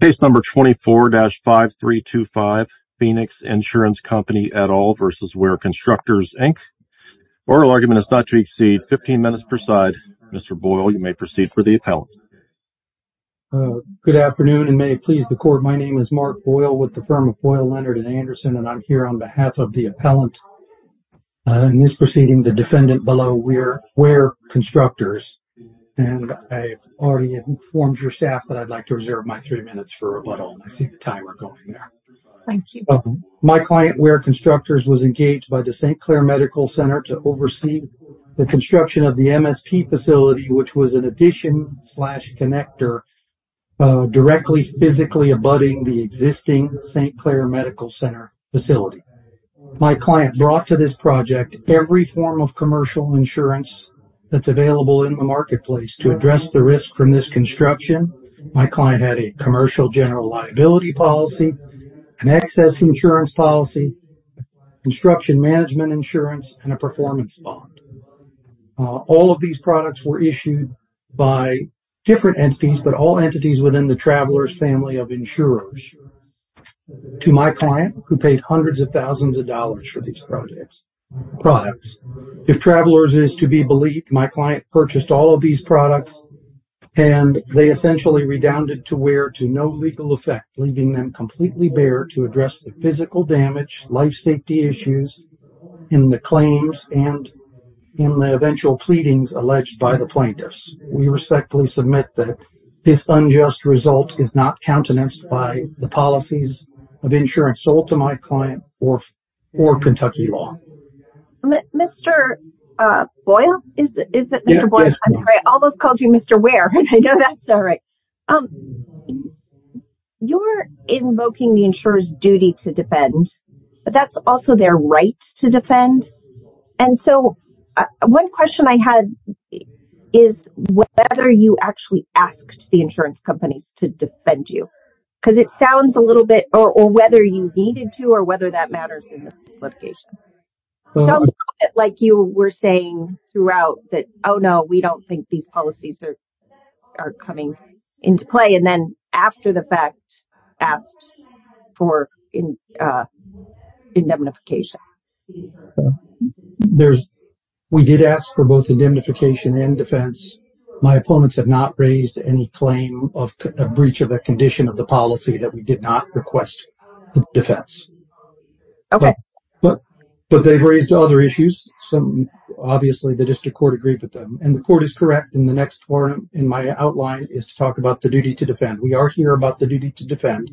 Case number 24-5325 Phoenix Insurance Company et al. v. Wehr Constructors Inc. Oral argument is not to exceed 15 minutes per side. Mr. Boyle, you may proceed for the appellant. Good afternoon, and may it please the court, my name is Mark Boyle with the firm of Boyle, Leonard & Anderson, and I'm here on behalf of the appellant. In this proceeding, the defendant below, Wehr Constructors, and I've already informed your that I'd like to reserve my three minutes for rebuttal. I see the timer going there. Thank you. My client, Wehr Constructors, was engaged by the St. Clair Medical Center to oversee the construction of the MSP facility, which was an addition slash connector directly physically abutting the existing St. Clair Medical Center facility. My client brought to this project every form of commercial insurance that's available in the marketplace to address the risk from this construction. My client had a commercial general liability policy, an excess insurance policy, construction management insurance, and a performance bond. All of these products were issued by different entities, but all entities within the traveler's family of insurers. To my client, who paid hundreds of thousands of dollars for these products, if travelers is to be believed, my client purchased all of these products and they essentially redounded to where to no legal effect, leaving them completely bare to address the physical damage, life safety issues, in the claims, and in the eventual pleadings alleged by the plaintiffs. We respectfully submit that this unjust result is not countenanced by the policies of insurance sold to my client or Kentucky law. Mr. Boyle, is it Mr. Boyle? I almost called you Mr. Ware. I know that's all right. You're invoking the insurer's duty to defend, but that's also their right to defend. And so one question I had is whether you actually asked the insurance companies to defend you, because it sounds a little bit, or whether you needed to, or whether that matters in the litigation. It sounds like you were saying throughout that, oh no, we don't think these policies are coming into play. And then after the fact, asked for indemnification. We did ask for both indemnification and defense. My opponents have not raised any claim of a breach of a condition of the policy that we did not request the defense. But they've raised other issues. Obviously the district court agreed with them, and the court is correct in the next forum in my outline is to talk about the duty to defend. We are here about the duty to defend.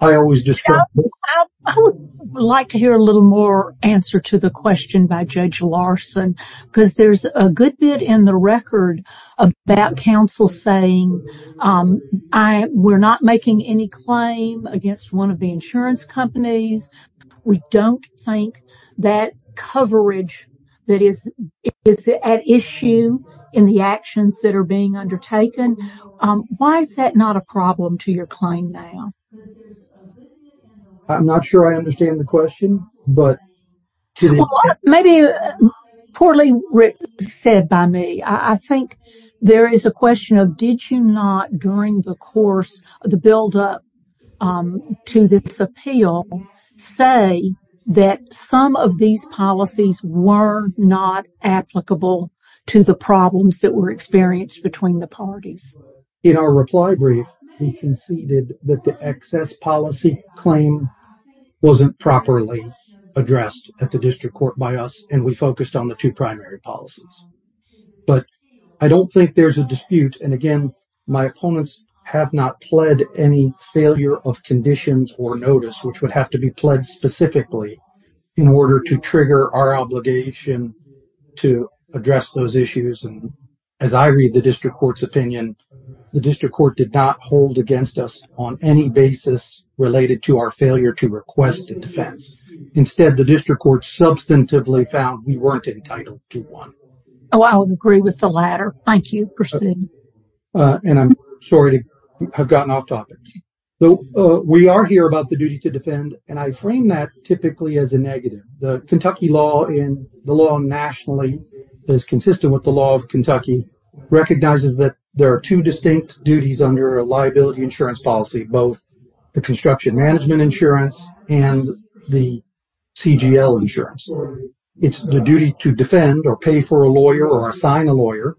I would like to hear a little more answer to the question by Judge Larson, because there's a good bit in the record about counsel saying we're not making any claim against one of the insurance companies. We don't think that coverage that is at issue in the actions that are being undertaken. Why is that not a problem to your claim now? I'm not sure I understand the question. Maybe, poorly said by me, I think there is a question of did you not during the course of the buildup to this appeal say that some of these policies were not applicable to the problems that were experienced between the parties? In our reply brief, he conceded that the policy claim wasn't properly addressed at the district court by us, and we focused on the two primary policies. But I don't think there's a dispute. And again, my opponents have not pled any failure of conditions or notice, which would have to be pled specifically in order to trigger our obligation to address those issues. And as I read the district court's opinion, the district court did not hold against us on any basis related to our failure to request a defense. Instead, the district court substantively found we weren't entitled to one. Oh, I would agree with the latter. Thank you for saying that. And I'm sorry to have gotten off topic. We are here about the duty to defend, and I frame that typically as a negative. The Kentucky law and the law nationally is consistent with the law of Kentucky, recognizes that there are two distinct duties under a liability insurance policy, both the construction management insurance and the CGL insurance. It's the duty to defend or pay for a lawyer or assign a lawyer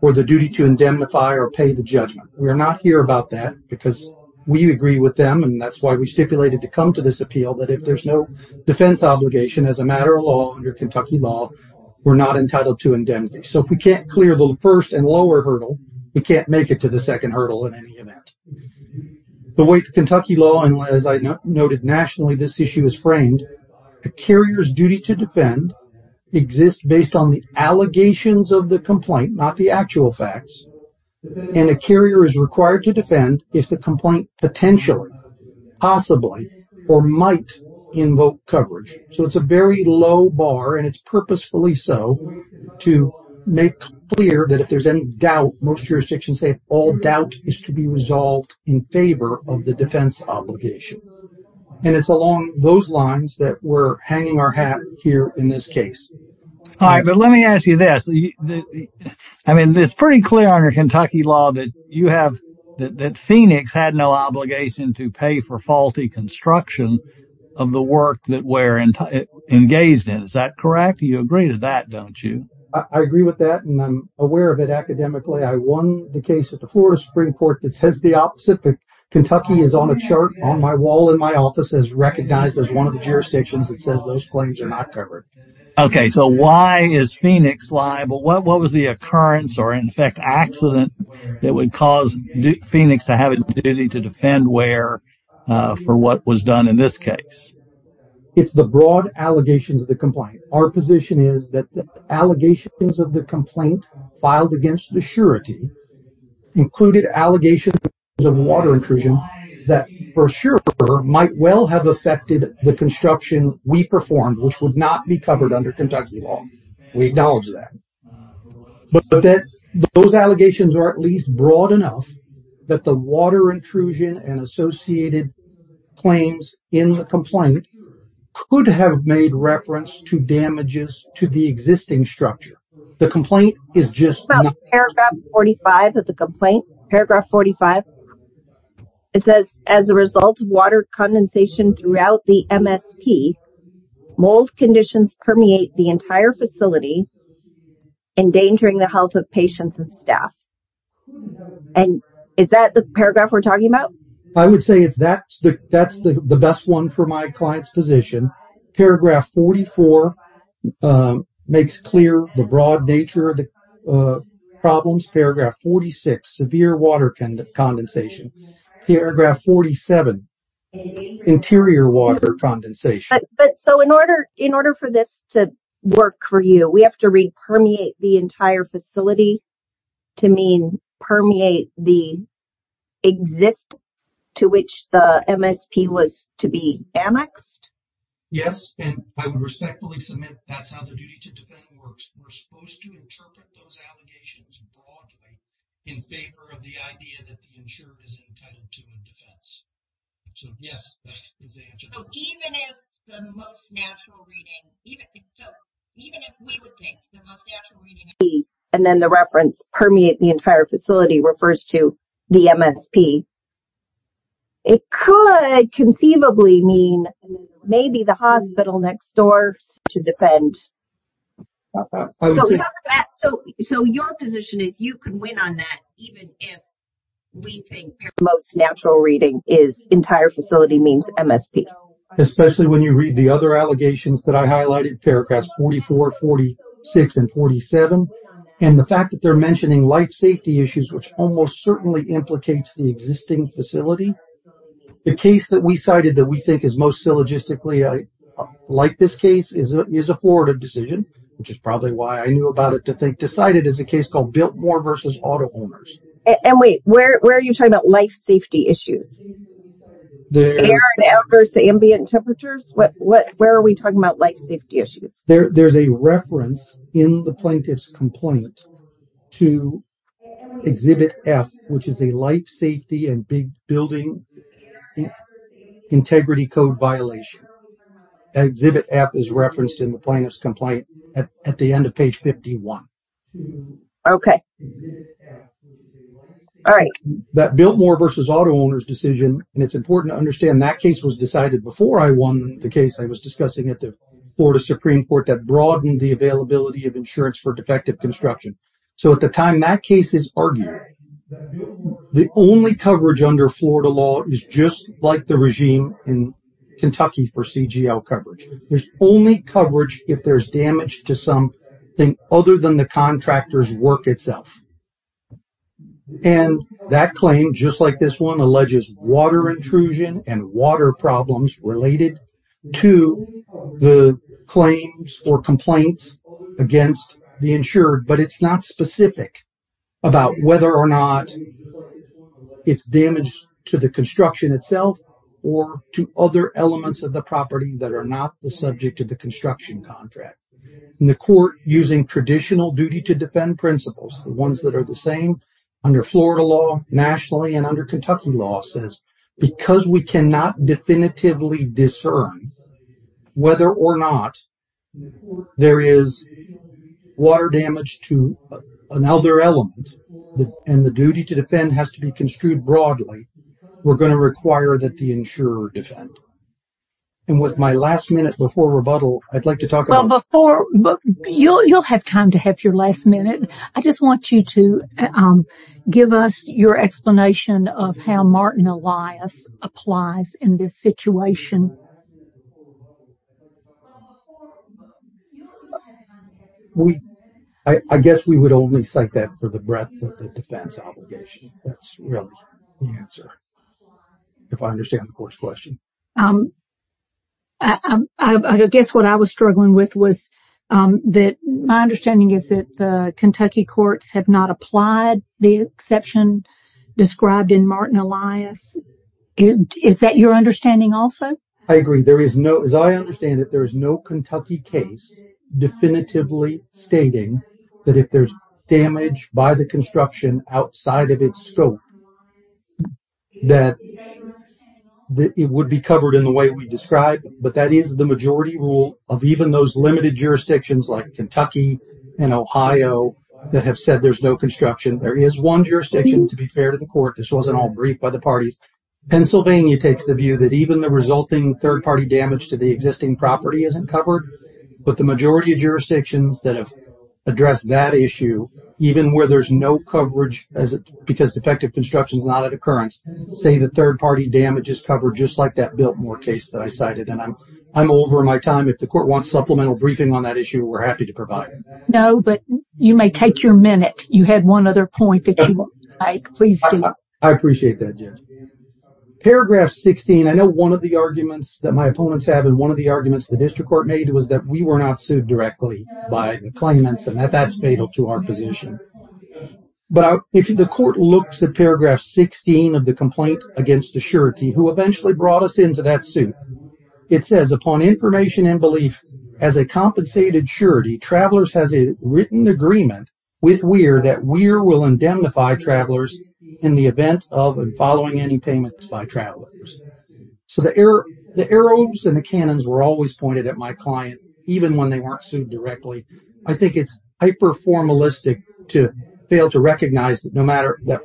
or the duty to indemnify or pay the judgment. We're not here about that because we agree with them, and that's why we stipulated to come to this appeal that if there's no defense obligation as a matter of law under Kentucky law, we're not entitled to indemnity. So if we can't clear the first and lower hurdle, we can't make it to the second hurdle in any event. The way Kentucky law, and as I noted nationally, this issue is framed, a carrier's duty to defend exists based on the allegations of the complaint, not the actual facts. And a carrier is required to defend if the complaint potentially, possibly, or might invoke coverage. So it's a very low bar and it's purposefully so to make clear that if there's any doubt, most jurisdictions say all doubt is to be resolved in favor of the defense obligation. And it's along those lines that we're hanging our hat here in this case. All right, but let me ask you this. I mean, it's pretty clear under Kentucky law that you have, that Phoenix had no obligation to pay for faulty construction of the work that we're engaged in. Is that correct? You agree to that, don't you? I agree with that and I'm aware of it academically. I won the case at the Florida Supreme Court that says the opposite. But Kentucky is on a chart on my wall in my office as recognized as one of the jurisdictions that says those claims are not covered. Okay, so why is Phoenix liable? What was the occurrence or in fact accident that would cause Phoenix to have a duty to defend where for what was done in this case? It's the broad allegations of the complaint. Our position is that the allegations of the complaint filed against the surety included allegations of water intrusion that for sure might well have affected the construction we performed, which would not be covered under Kentucky law. We acknowledge that. But that those allegations are at least broad enough that the water intrusion and associated claims in the complaint could have made reference to damages to the existing structure. The complaint is just- It's about paragraph 45 of the complaint, paragraph 45. It says as a result of water condensation throughout the MSP, mold conditions permeate the entire facility endangering the health of patients and staff. And is that the paragraph we're talking about? I would say that's the best one for my client's position. Paragraph 44 makes clear the broad nature of the problems. Paragraph 46, severe water condensation. Paragraph 47, interior water condensation. But so in order for this to work for you, we have to read permeate the entire facility to mean permeate the existing to which the MSP was to be annexed? Yes, and I would respectfully submit that's how the duty to defend works. We're supposed to interpret those allegations broadly in favor of the idea that the insurer is entitled to the defense. So yes, that's the answer. So even if the most natural reading, even if we would think the most natural reading- And then the reference permeate the entire facility refers to the MSP. It could conceivably mean maybe the hospital next door to defend. So your position is you could win on that even if we think the most natural reading is entire facility means MSP. Especially when you read the other allegations that I highlighted, paragraphs 44, 46, and 47. And the fact that they're mentioning life safety issues, which almost certainly implicates the existing facility. The case that we cited that we think is most syllogistically like this case is a forwarded decision, which is probably why I knew about it to think decided as a case called Biltmore versus auto owners. And wait, where are you talking about life safety issues? Air and air versus ambient temperatures? Where are we talking about life safety issues? There's a reference in the plaintiff's complaint to exhibit F, which is a life safety and big building integrity code violation. Exhibit F is referenced in the plaintiff's complaint at the end of page 51. Okay. All right. That Biltmore versus auto owners decision, and it's important to understand that case was decided before I won the case I was discussing at the Florida Supreme Court that broadened the availability of insurance for defective construction. So at the time that case is argued, the only coverage under Florida law is just like the regime in Kentucky for CGL coverage. There's only coverage if there's damage to something other than the contractor's work itself. And that claim, just like this one, alleges water intrusion and water problems related to the claims or complaints against the insured, but it's not specific about whether or not it's damaged to the construction itself or to other elements of the property that are not the subject of the construction contract. And the court, using traditional duty to defend principles, the ones that are the same under Florida law nationally and under Kentucky law, says because we cannot definitively discern whether or not there is water damage to another element and the duty to defend has to be construed broadly, we're going to require that the insurer defend. And with my last minute before rebuttal, I'd like to talk about... Well, before, you'll have time to have your last minute. I just want you to give us your explanation of how Martin Elias applies in this situation. I guess we would only cite that for the breadth of the defense obligation. That's really the answer, if I understand the court's question. I guess what I was struggling with was that my understanding is that the Kentucky courts have not applied the exception described in Martin Elias. Is that your understanding also? I agree. As I understand it, there is no Kentucky case definitively stating that if there's damage by the construction outside of its scope, that it would be covered in the way we described. But that is the majority rule of even those limited jurisdictions like Kentucky and Ohio that have said there's no construction. There is one jurisdiction, to be fair to the court, this wasn't all brief by the parties. Pennsylvania takes the view that even the resulting third-party damage to the existing property isn't covered. But the majority of jurisdictions that have addressed that issue, even where there's no coverage because defective construction is not an occurrence, say the third-party damage is covered just like that Biltmore case that I cited. I'm over my time. If the court wants supplemental briefing on that issue, we're happy to provide it. No, but you may take your minute. You had one other point that you would like. Please do. I appreciate that, Judge. Paragraph 16, I know one of the arguments that my opponents have and one of the arguments the district court made was that we were not sued directly by the claimants and that's fatal to our position. But if the court looks at paragraph 16 of the complaint against the surety who eventually brought us into that suit, it says, upon information and belief as a compensated surety, Travelers has a written agreement with Weir that Weir will indemnify Travelers in the event of and following any payments by Travelers. So the arrows and the cannons were always pointed at my client, even when they weren't sued directly. I think it's hyper-formalistic to fail to recognize that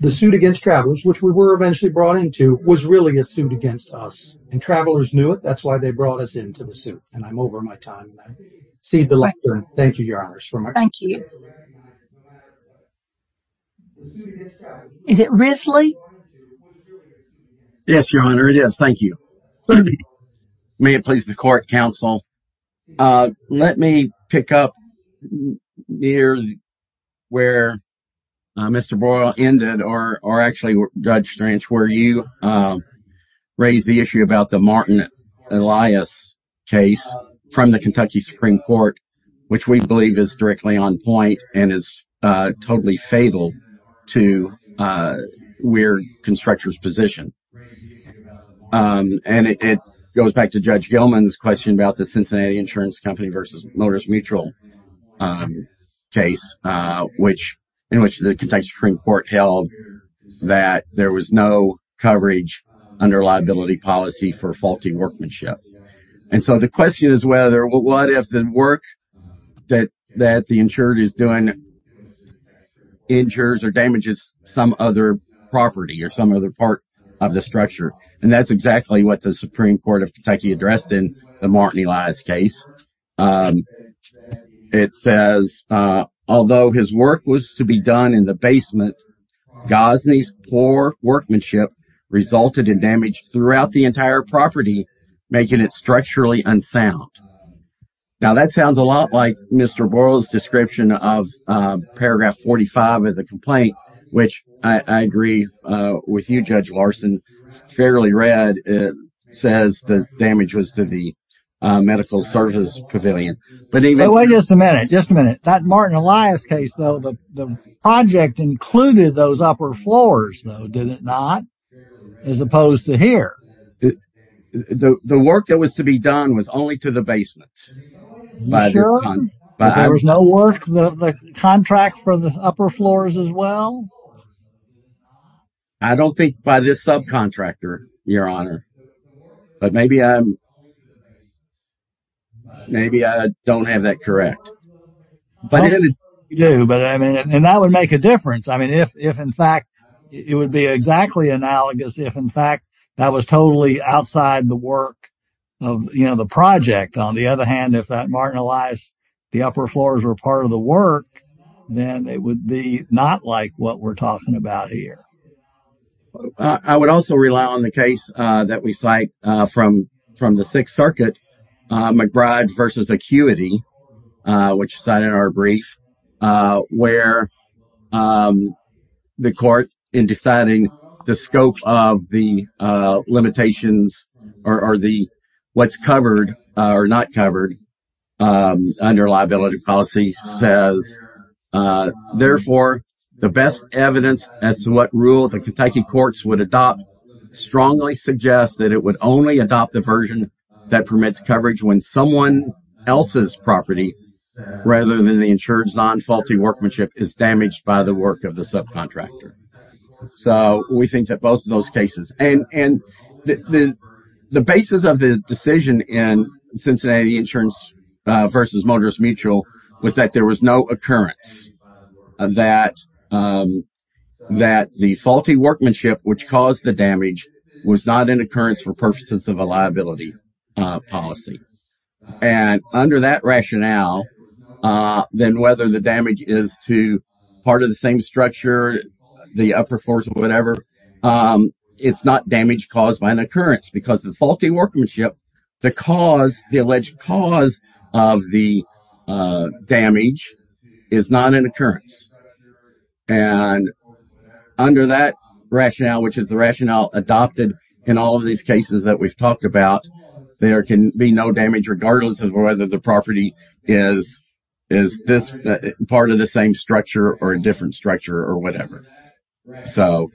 the suit against Travelers, which we were eventually brought into, was really a suit against us. And Travelers knew it. That's why they brought us into the suit. And I'm over my time. I cede the lectern. Thank you, Your Honors. Is it Risley? Yes, Your Honor. It is. Thank you. May it please the court, counsel. Let me pick up near where Mr. Boyle ended, or actually, Judge Strange, where you raised the issue about the Martin Elias case from the Kentucky Supreme Court, which we believe is directly on point and is totally fatal to Weir Constructor's position. And it goes back to Judge Gilman's question about the Cincinnati Insurance Company v. Motors Mutual case, in which the Kentucky Supreme Court held that there was no coverage under liability policy for faulty workmanship. And so the question is whether, what if the work that the insurer is doing injures or damages some other property or some other part of the structure? And that's exactly what the Supreme Court of Kentucky addressed in the Martin Elias case. It says, although his work was to be done in the basement, Gosney's poor workmanship resulted in damage throughout the entire property, making it structurally unsound. Now, that sounds a lot like Mr. Boyle's description of paragraph 45 of the complaint, which I agree with you, Judge Larson. Fairly read, it says the damage was to the medical service pavilion. But even... Wait just a minute, just a minute. That Martin Elias case, though, the project included those upper floors, though, did it not, as opposed to here? The work that was to be done was only to the basement. Sure, if there was no work, the contract for the upper floors as well? I don't think by this subcontractor, Your Honor. But maybe I'm, maybe I don't have that correct. But you do, but I mean, and that would make a difference. I mean, if in fact, it would be exactly analogous if in fact that was totally outside the work of, you know, the project. On the other hand, if that Martin Elias, the upper floors were part of the work, then it would be not like what we're talking about here. I would also rely on the case that we cite from the Sixth Circuit, McBride v. Acuity, which cited our brief, where the court in deciding the scope of the limitations or the what's covered or not covered under liability policy says, therefore, the best evidence as to what rule the Kentucky courts would adopt strongly suggests that it would only adopt the version that permits coverage when someone else's property rather than the insured's non-faulty workmanship is damaged by the work of the The basis of the decision in Cincinnati Insurance versus Motors Mutual was that there was no occurrence that the faulty workmanship which caused the damage was not an occurrence for purposes of a liability policy. And under that rationale, then whether the damage is to part of the same structure, the upper floors or whatever, it's not damage caused by an occurrence because the faulty workmanship, the alleged cause of the damage is not an occurrence. And under that rationale, which is the rationale adopted in all of these cases that we've talked about, there can be no damage regardless of whether the property is part of the same structure or a different structure or whatever. Well,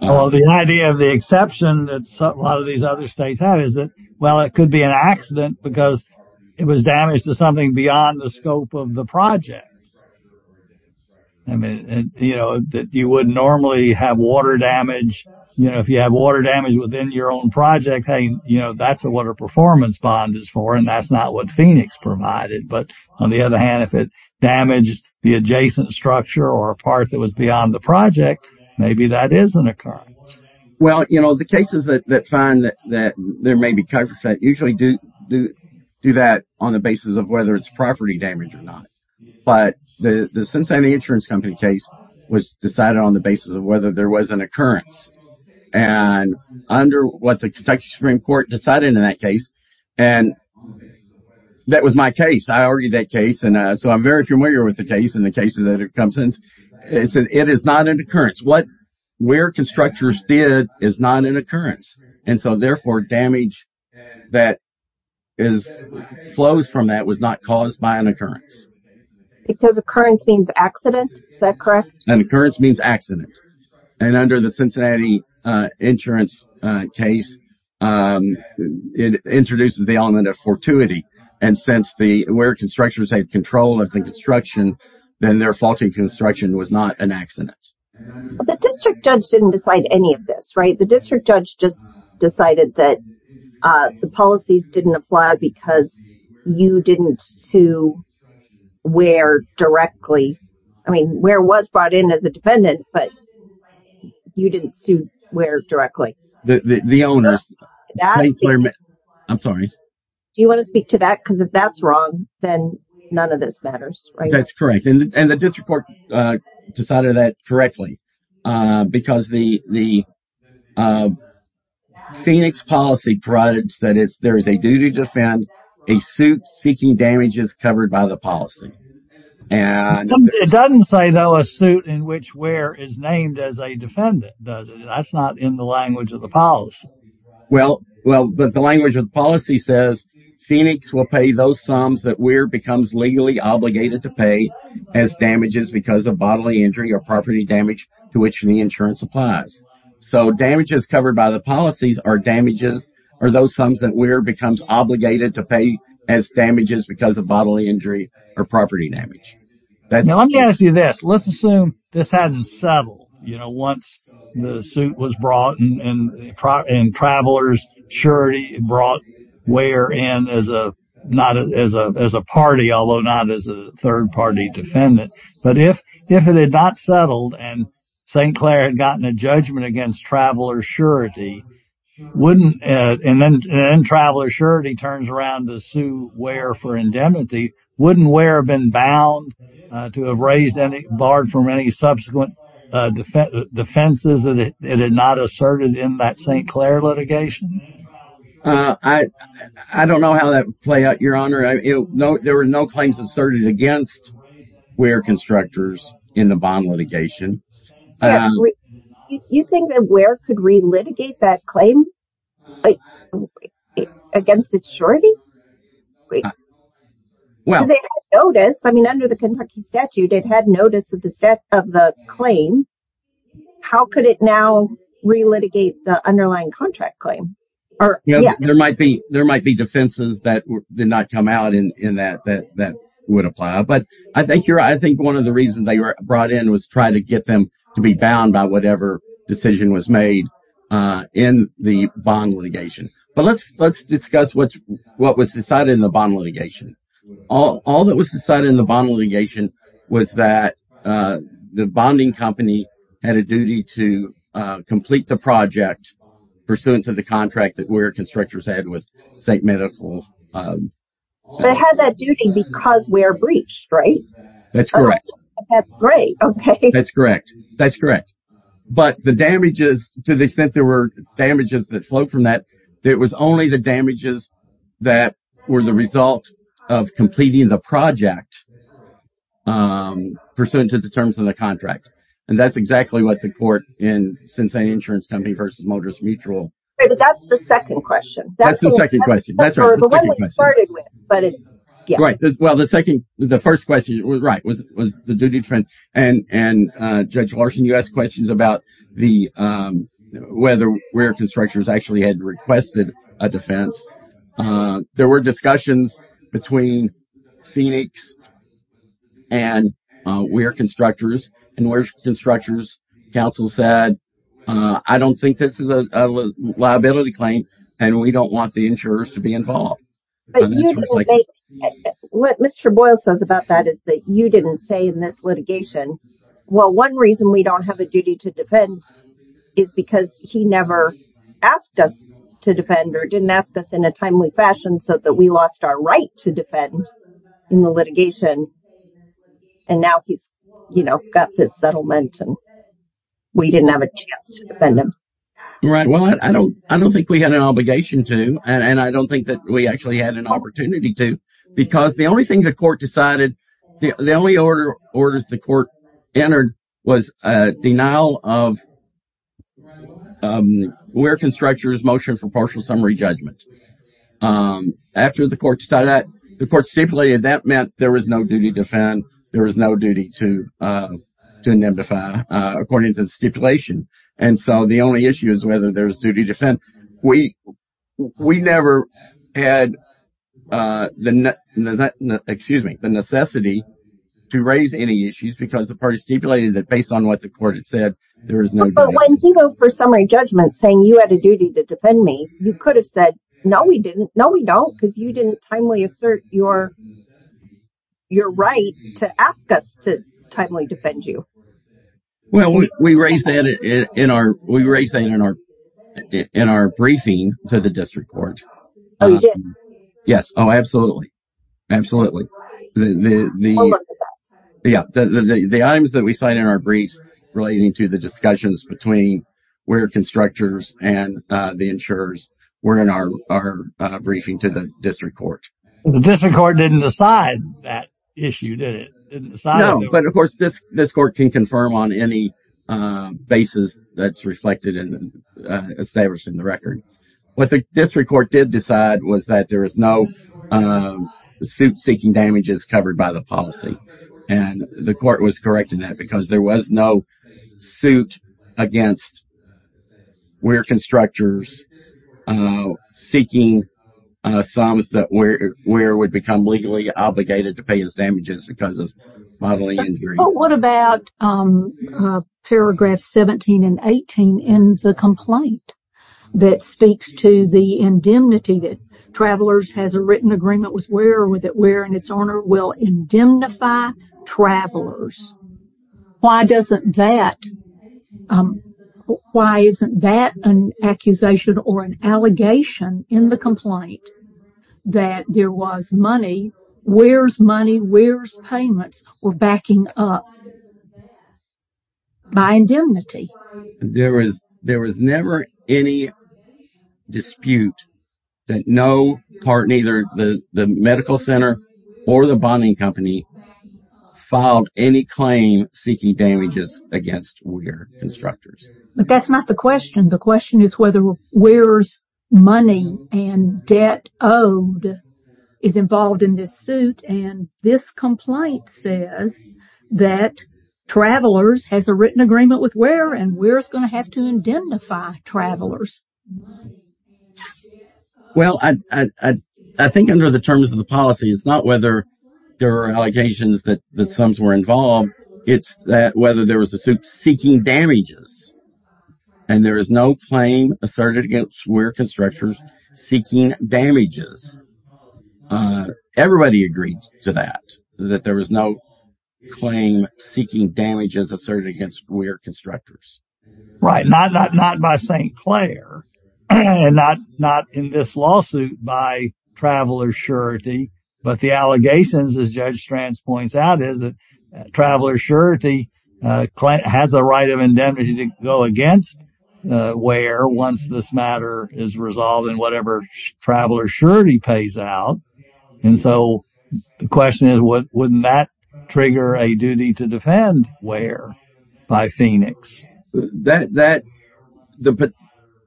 the idea of the exception that a lot of these other states have is that, well, it could be an accident because it was damaged to something beyond the scope of the project. I mean, you know, that you would normally have water damage, you know, if you have water damage within your own project, hey, you know, that's what a performance bond is for and that's not what Phoenix provided. But on the other hand, if it damaged the adjacent structure or a part that was beyond the project, maybe that is an occurrence. Well, you know, the cases that find that there may be coverage that usually do that on the basis of whether it's property damage or not. But the Cincinnati Insurance Company case was decided on the basis of whether there was an occurrence and under what the Kentucky Supreme Court decided in that case. And that was my case. I argued that case. And so I'm very familiar with the case and the cases that it comes in. It is not an occurrence. What where constructors did is not an occurrence. And so, therefore, damage that flows from that was not caused by an occurrence. Because occurrence means accident, is that correct? An occurrence means accident. And under the Cincinnati Insurance case, it introduces the element of fortuity. And since the where constructors had control of the construction, then their fault in construction was not an accident. The district judge didn't decide any of this, right? The district judge just decided that the policies didn't apply because you didn't sue where directly. I mean, where was brought in as a defendant, but you didn't sue where directly? The owner. I'm sorry. Do you want to speak to that? Because if that's wrong, then none of this matters. That's correct. And the district court decided that correctly because the Phoenix policy provides that there is a duty to defend a suit seeking damages covered by the policy. It doesn't say, though, a suit in which where is named as a defendant, does it? That's not in the language of the policy. Well, but the language of the policy says Phoenix will pay those sums that where becomes legally obligated to pay as damages because of bodily injury or property damage to which the insurance applies. So damages covered by the policies are damages or those sums that where becomes obligated to pay as damages because of bodily injury or property damage. Now, I'm going to this. Let's assume this hadn't settled, you know, once the suit was brought and travelers surety brought where and as a not as a as a party, although not as a third party defendant. But if if it had not settled and St. Clair had gotten a judgment against traveler surety, wouldn't and then traveler surety turns around to sue where for indemnity, wouldn't where have been bound to have raised any barred from any subsequent defense defenses that it had not asserted in that St. Clair litigation? I don't know how that would play out, Your Honor. No, there were no claims asserted against where constructors in the bond litigation. You think that where could relitigate that claim? Well, I mean, under the Kentucky statute, it had notice of the set of the claim. How could it now relitigate the underlying contract claim or there might be there might be defenses that did not come out in that that that would apply. But I think you're I think one of the reasons they were brought in was try to get them to be bound by whatever decision was made in the bond litigation. But let's let's discuss what what was decided in the bond litigation. All that was decided in the bond litigation was that the bonding company had a duty to complete the project pursuant to the contract that where constructors had with St. Medical. They had that duty because we're breached, right? That's correct. That's great. Okay, that's correct. That's correct. But the damages to the extent there were damages that flow from that, it was only the damages that were the result of completing the project pursuant to the terms of the contract. And that's exactly what the court in Cincinnati Insurance Company versus Motors Mutual. That's the second question. That's the second question. The one we started with, but it's right. Well, the second the first question was right was was the duty trend. And Judge Larson, you asked questions about the whether where constructors actually had requested a defense. There were discussions between Phoenix and where constructors and where constructors counsel said, I don't think this is a liability claim and we don't want the insurers to be involved. What Mr. Boyle says about that is that you didn't say in this litigation. Well, one reason we don't have a duty to defend is because he never asked us to defend or didn't ask us in a timely fashion so that we lost our right to defend in the litigation. And now he's, you know, got this settlement and we didn't have a chance to defend him. Right. Well, I don't I don't think we had an obligation to and I don't think that we actually had an opportunity to because the only thing the court decided the only order orders the court entered was a denial of where constructors motion for partial summary judgment. After the court decided that the court stipulated that meant there was no duty to defend. There was no duty to to indemnify according to the stipulation. And so the only issue is whether there's duty to defend. We we never had the excuse me, the necessity to raise any issues because the party stipulated that based on what the court had said, there is no one for summary judgment saying you had a duty to defend me. You could have said, no, we didn't. No, we don't, because you didn't timely assert your your right to ask us to timely defend you. Well, we raised that in our briefing to the district court. Yes. Oh, absolutely. Absolutely. The items that we signed in our briefs relating to the between where constructors and the insurers were in our briefing to the district court. The district court didn't decide that issue, did it? But of course, this court can confirm on any basis that's reflected in establishing the record. What the district court did decide was that there is no suit seeking damages covered by the policy. And the court was correct in that because there was no suit against where constructors seeking sums that were where would become legally obligated to pay his damages because of bodily injury. What about paragraph 17 and 18 in the complaint that speaks to the indemnity that has a written agreement with where with it where and its owner will indemnify travelers? Why doesn't that? Why isn't that an accusation or an allegation in the complaint that there was money? Where's money? Where's payments were backing up? By indemnity, there was there was never any dispute that no part, neither the medical center or the bonding company filed any claim seeking damages against where constructors. But that's not the question. The question is whether where's money and debt owed is involved in this suit. And this complaint says that travelers has a written agreement with where and where it's going to have to indemnify travelers. Well, I think under the terms of the policy, it's not whether there are allegations that the sums were involved. It's that whether there was a suit seeking damages and there is no claim asserted against where constructors seeking damages. Everybody agreed to that, that there was no claim seeking damages asserted against where constructors. Right. Not not not by St. Clair and not not in this lawsuit by Traveler's Surety. But the allegations, as Judge Strands points out, is that Traveler's Surety has a right of go against where once this matter is resolved and whatever Traveler's Surety pays out. And so the question is, wouldn't that trigger a duty to defend where by Phoenix? That the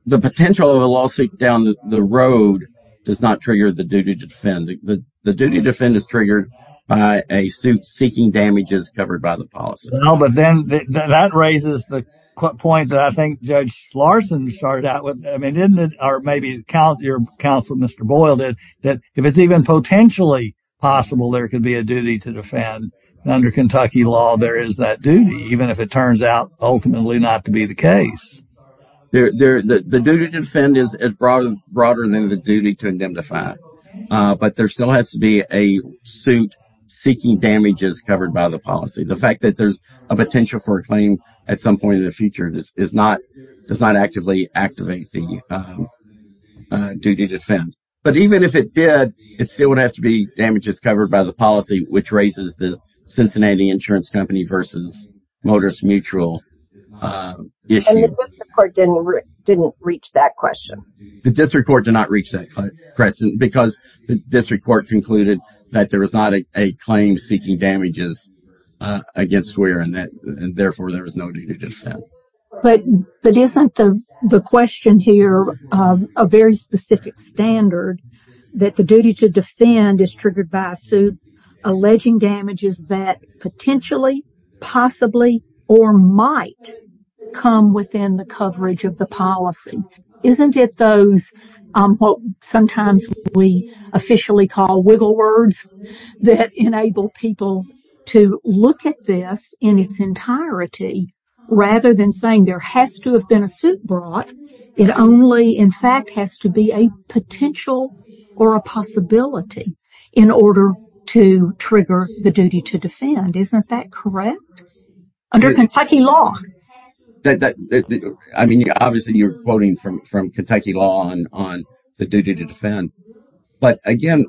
the potential of a lawsuit down the road does not trigger the duty to defend. The duty to defend is triggered by a suit seeking damages covered by the policy. But then that raises the point that I think Judge Larson started out with. I mean, didn't it? Or maybe your counsel, Mr. Boyle, that that if it's even potentially possible, there could be a duty to defend. Under Kentucky law, there is that duty, even if it turns out ultimately not to be the case. The duty to defend is broader than the duty to indemnify. But there still has to be a suit seeking damages covered by the policy. The fact that there's a potential for a claim at some point in the future is not does not actively activate the duty to defend. But even if it did, it still would have to be damages covered by the policy, which raises the Cincinnati Insurance Company versus Motors Mutual issue. And the district court didn't reach that question. The district court did not reach that question because the district court concluded that there is not a claim seeking damages against Swearer and therefore there is no duty to defend. But isn't the question here a very specific standard that the duty to defend is triggered by a suit alleging damages that potentially, possibly, or might come within the coverage of policy? Isn't it those what sometimes we officially call wiggle words that enable people to look at this in its entirety, rather than saying there has to have been a suit brought, it only in fact has to be a potential or a possibility in order to trigger the duty to Isn't that correct? Under Kentucky law. I mean, obviously, you're quoting from Kentucky law on the duty to defend. But again,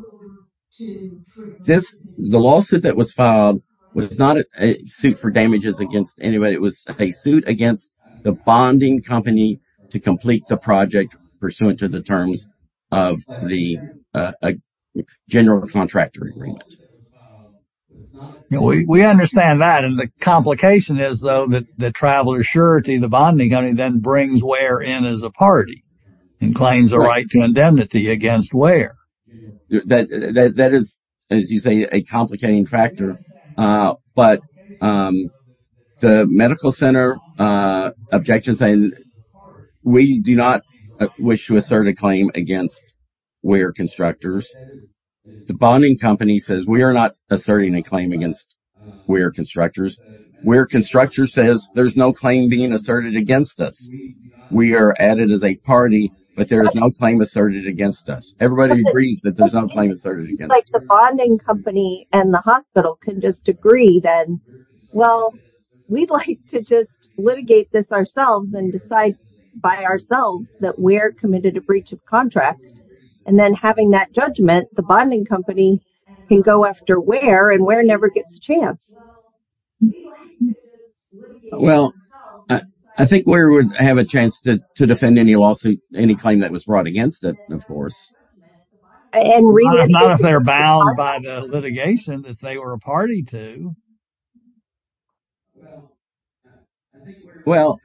the lawsuit that was filed was not a suit for damages against anybody. It was a suit against the bonding company to complete the project pursuant to the terms of the general contractor. And we understand that. And the complication is, though, that the traveler surety, the bonding company then brings where in as a party and claims the right to indemnity against where that is, as you say, a complicating factor. But the medical center objection saying we do not wish to assert a claim against where constructors, the bonding company says we are not asserting a claim against where constructors where constructors says there's no claim being asserted against us. We are added as a party, but there is no claim asserted against us. Everybody agrees that there's no claim asserted against the bonding company and the hospital can just agree that, well, we'd like to just litigate this ourselves and decide by ourselves that we're committed to breach of contract. And then having that judgment, the bonding company can go after where and where never gets a chance. Well, I think we would have a chance to defend any lawsuit, any claim that was brought against it, of course. Not if they're bound by the litigation that they were a party to. Well,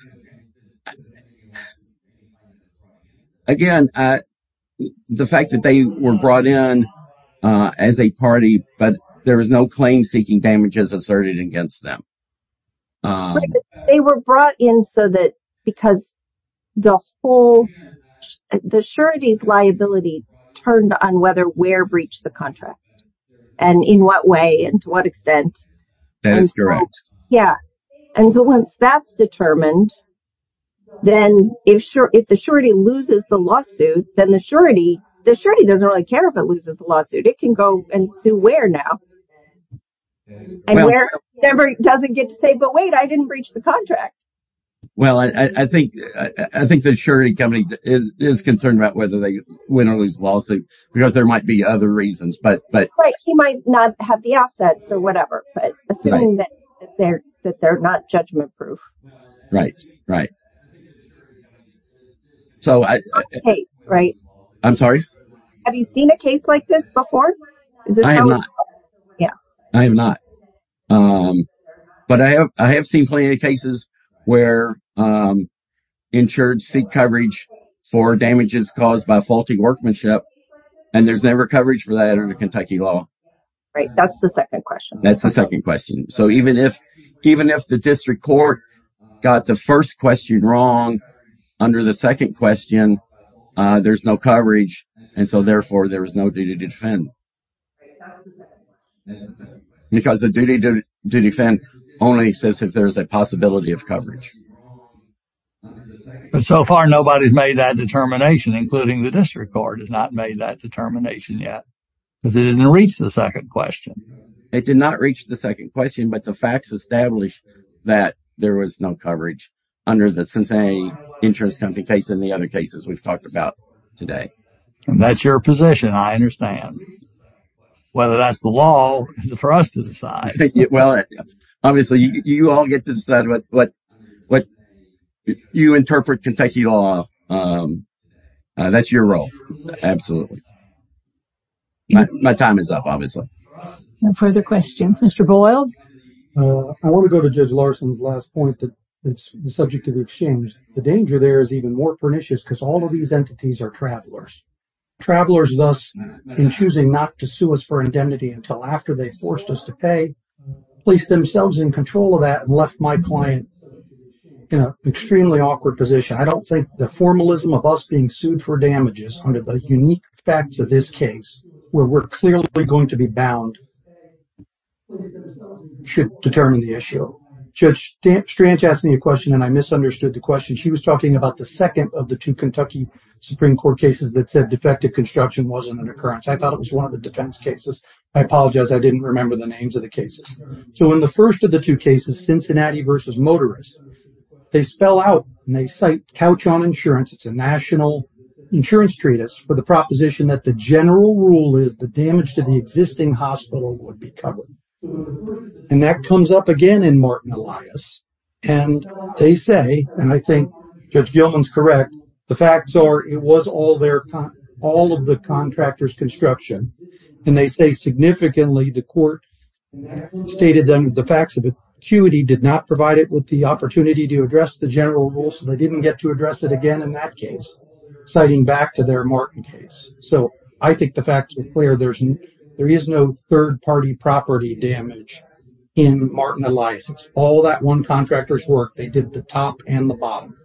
again, the fact that they were brought in as a party, but there was no claim seeking damages asserted against them. But they were brought in so that because the whole the sureties liability turned on whether where breached the contract and in what way and to what extent. That is correct. Yeah. And so once that's determined, then if the surety loses the lawsuit, then the surety doesn't really care if it loses the lawsuit. It can go and sue where now. And where it doesn't get to say, but wait, I didn't breach the contract. Well, I think the surety company is concerned about whether they win or lose the lawsuit because there might be other reasons. But he might not have the assets or whatever, but assuming that they're not judgment proof. Right, right. So I'm sorry. Have you seen a case like this before? Yeah, I have not. But I have I have seen plenty of cases where insured seek coverage for damages caused by faulty workmanship. And there's never coverage for that under Kentucky law. Right. That's the second question. That's the second question. So even if even if the district court got the first question wrong under the second question, there's no coverage. And so therefore, there is no duty to defend. Because the duty to defend only exists if there's a possibility of coverage. But so far, nobody's made that determination, including the district court has not made that determination yet. Because it didn't reach the second question. It did not reach the second question. But the facts established that there was no coverage under the Cincinnati insurance company case and the other cases we've talked about today. That's your position. I understand. Whether that's the law for us to decide. Well, obviously, you all get to decide what what what you interpret Kentucky law. That's your role. Absolutely. My time is up, obviously. Further questions, Mr. Boyle. I want to go to Judge Larson's last point that it's the subject of exchange. The danger there is even more pernicious because all of these entities are travelers. Travelers thus in choosing not to sue us for indemnity until after they forced us to pay, placed themselves in control of that and left my client in an extremely awkward position. I don't think the formalism of us being sued for damages under the unique facts of this case, where we're clearly going to be bound, should determine the issue. Judge Strange asked me a question and I misunderstood the question. She was talking about the second of the two Kentucky Supreme Court cases that said defective construction wasn't an occurrence. I thought it was one of the defense cases. I apologize. I didn't remember the names of the cases. So in the first of the two cases, Cincinnati versus Motorist, they spell out and they cite Couch on Insurance. It's a national insurance treatise for the proposition that the general rule is the damage to the existing hospital would be covered. And that comes up again in Martin Elias. And they say, and I think Judge Gilman's correct, the facts are it was all of the contractor's construction. And they say significantly the court stated then the facts of it. Acuity did not provide it with the opportunity to address the general rule. So they didn't get to address it again in that case, citing back to their Martin case. So I think the facts are clear. There is no third party property damage in Martin Elias. All that one contractor's work, they did the top and the bottom.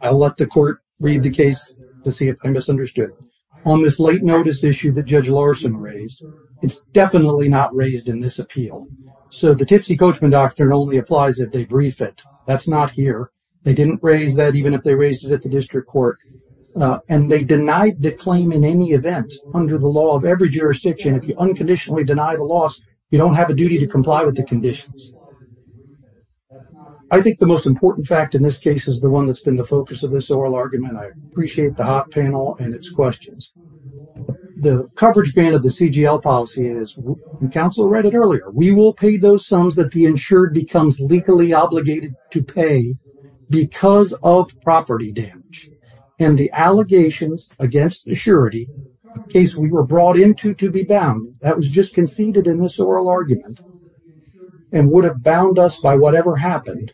I'll let the court read the case to see if I misunderstood. On this late notice issue that Judge Larson raised, it's definitely not raised in this appeal. So the Tipsy Coachman doctrine only applies if they brief it. That's not here. They didn't raise that even if they raised it at the district court. And they denied the claim in any event under the law of every jurisdiction. If you unconditionally deny the loss, you don't have a duty to comply with the conditions. I think the most important fact in this case is the one that's been the focus of this oral argument. I appreciate the hot panel and its questions. The coverage ban of the CGL policy is, and counsel read it earlier, we will pay those sums that the insured becomes legally obligated to pay because of property damage. And the allegations against the surety case we were brought into to be bound, that was just conceded in this oral argument, and would have bound us by whatever happened,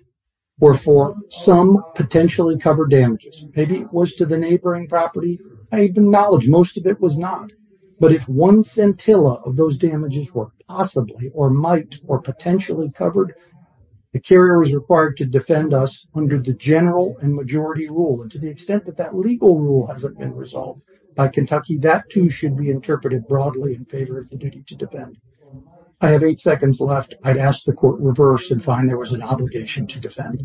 were for some potentially covered damages. Maybe it was to the neighboring property. I acknowledge most of it was not. But if one centilla of those damages were possibly or might or potentially covered, the carrier was required to defend us under the general and majority rule. And to the extent that that legal rule hasn't been resolved by Kentucky, that too should be interpreted broadly in favor of the duty to defend. I have eight seconds left. I'd ask the court reverse and find there was an obligation to defend.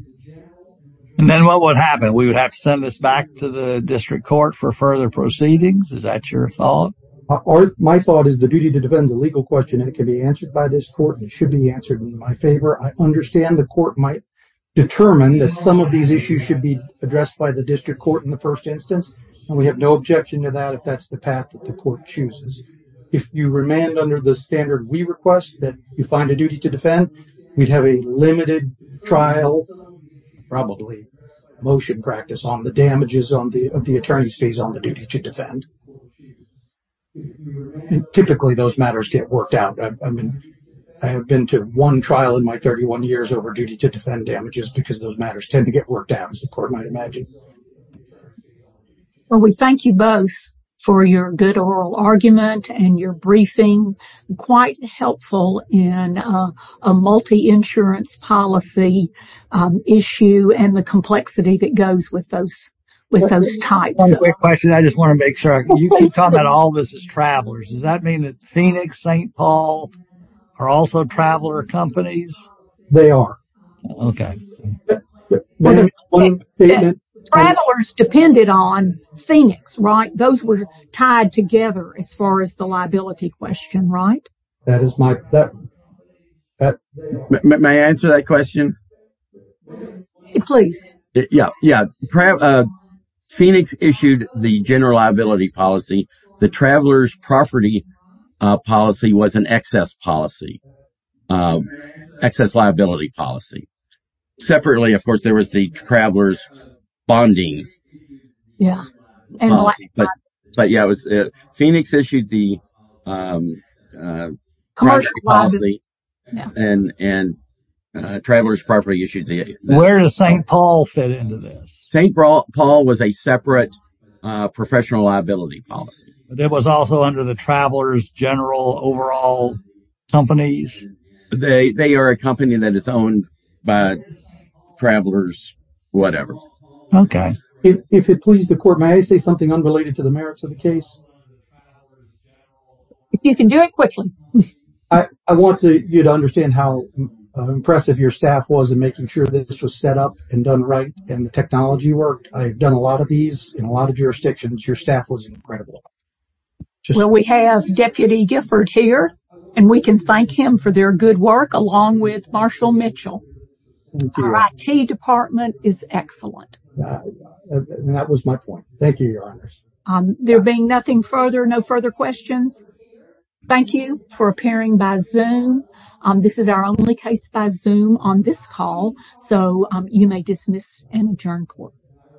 And then what would happen? We would have to send this back to the district court for further proceedings. Is that your thought? My thought is the duty to defend the legal question, and it can be answered by this court. It should be answered in my favor. I understand the court might determine that some of these issues should be addressed by the district court in the first instance. And we have no objection to that if that's the path that the court chooses. If you remand under the standard we request that you find a duty to defend, we'd have a limited trial, probably motion practice, on the damages of the attorney's fees on the duty to defend. And typically those matters get worked out. I have been to one trial in my 31 years over duty to defend damages because those matters tend to get worked out, as the court might imagine. Well, we thank you both for your good oral argument and your briefing. Quite helpful in a multi-insurance policy issue and the complexity that goes with those types. One quick question. I just want to make sure. You keep talking about all this is travelers. Does that mean that Phoenix, St. Paul are also traveler companies? They are. Okay. Travelers depended on Phoenix, right? Those were tied together as far as the liability question, right? May I answer that question? Please. Phoenix issued the general liability policy. The traveler's property policy was an excess policy, excess liability policy. Separately, of course, there was the traveler's bonding. Yeah. But yeah, Phoenix issued the and traveler's property issued the... Where does St. Paul fit into this? St. Paul was a separate professional liability policy. But it was also under the traveler's general overall companies? They are a company that is owned by travelers, whatever. If it pleases the court, may I say something unrelated to the merits of the case? You can do it quickly. I want you to understand how impressive your staff was in making sure that this was set up and done right and the technology worked. I've done a lot of these in a lot of jurisdictions. Your staff was incredible. Well, we have Deputy Gifford here, and we can thank him for their good work along with Marshall Mitchell. Our IT department is excellent. That was my point. Thank you, Your Honors. There being nothing further, no further questions. Thank you for appearing by Zoom. This is our only case by Zoom on this call. So you may dismiss and adjourn court.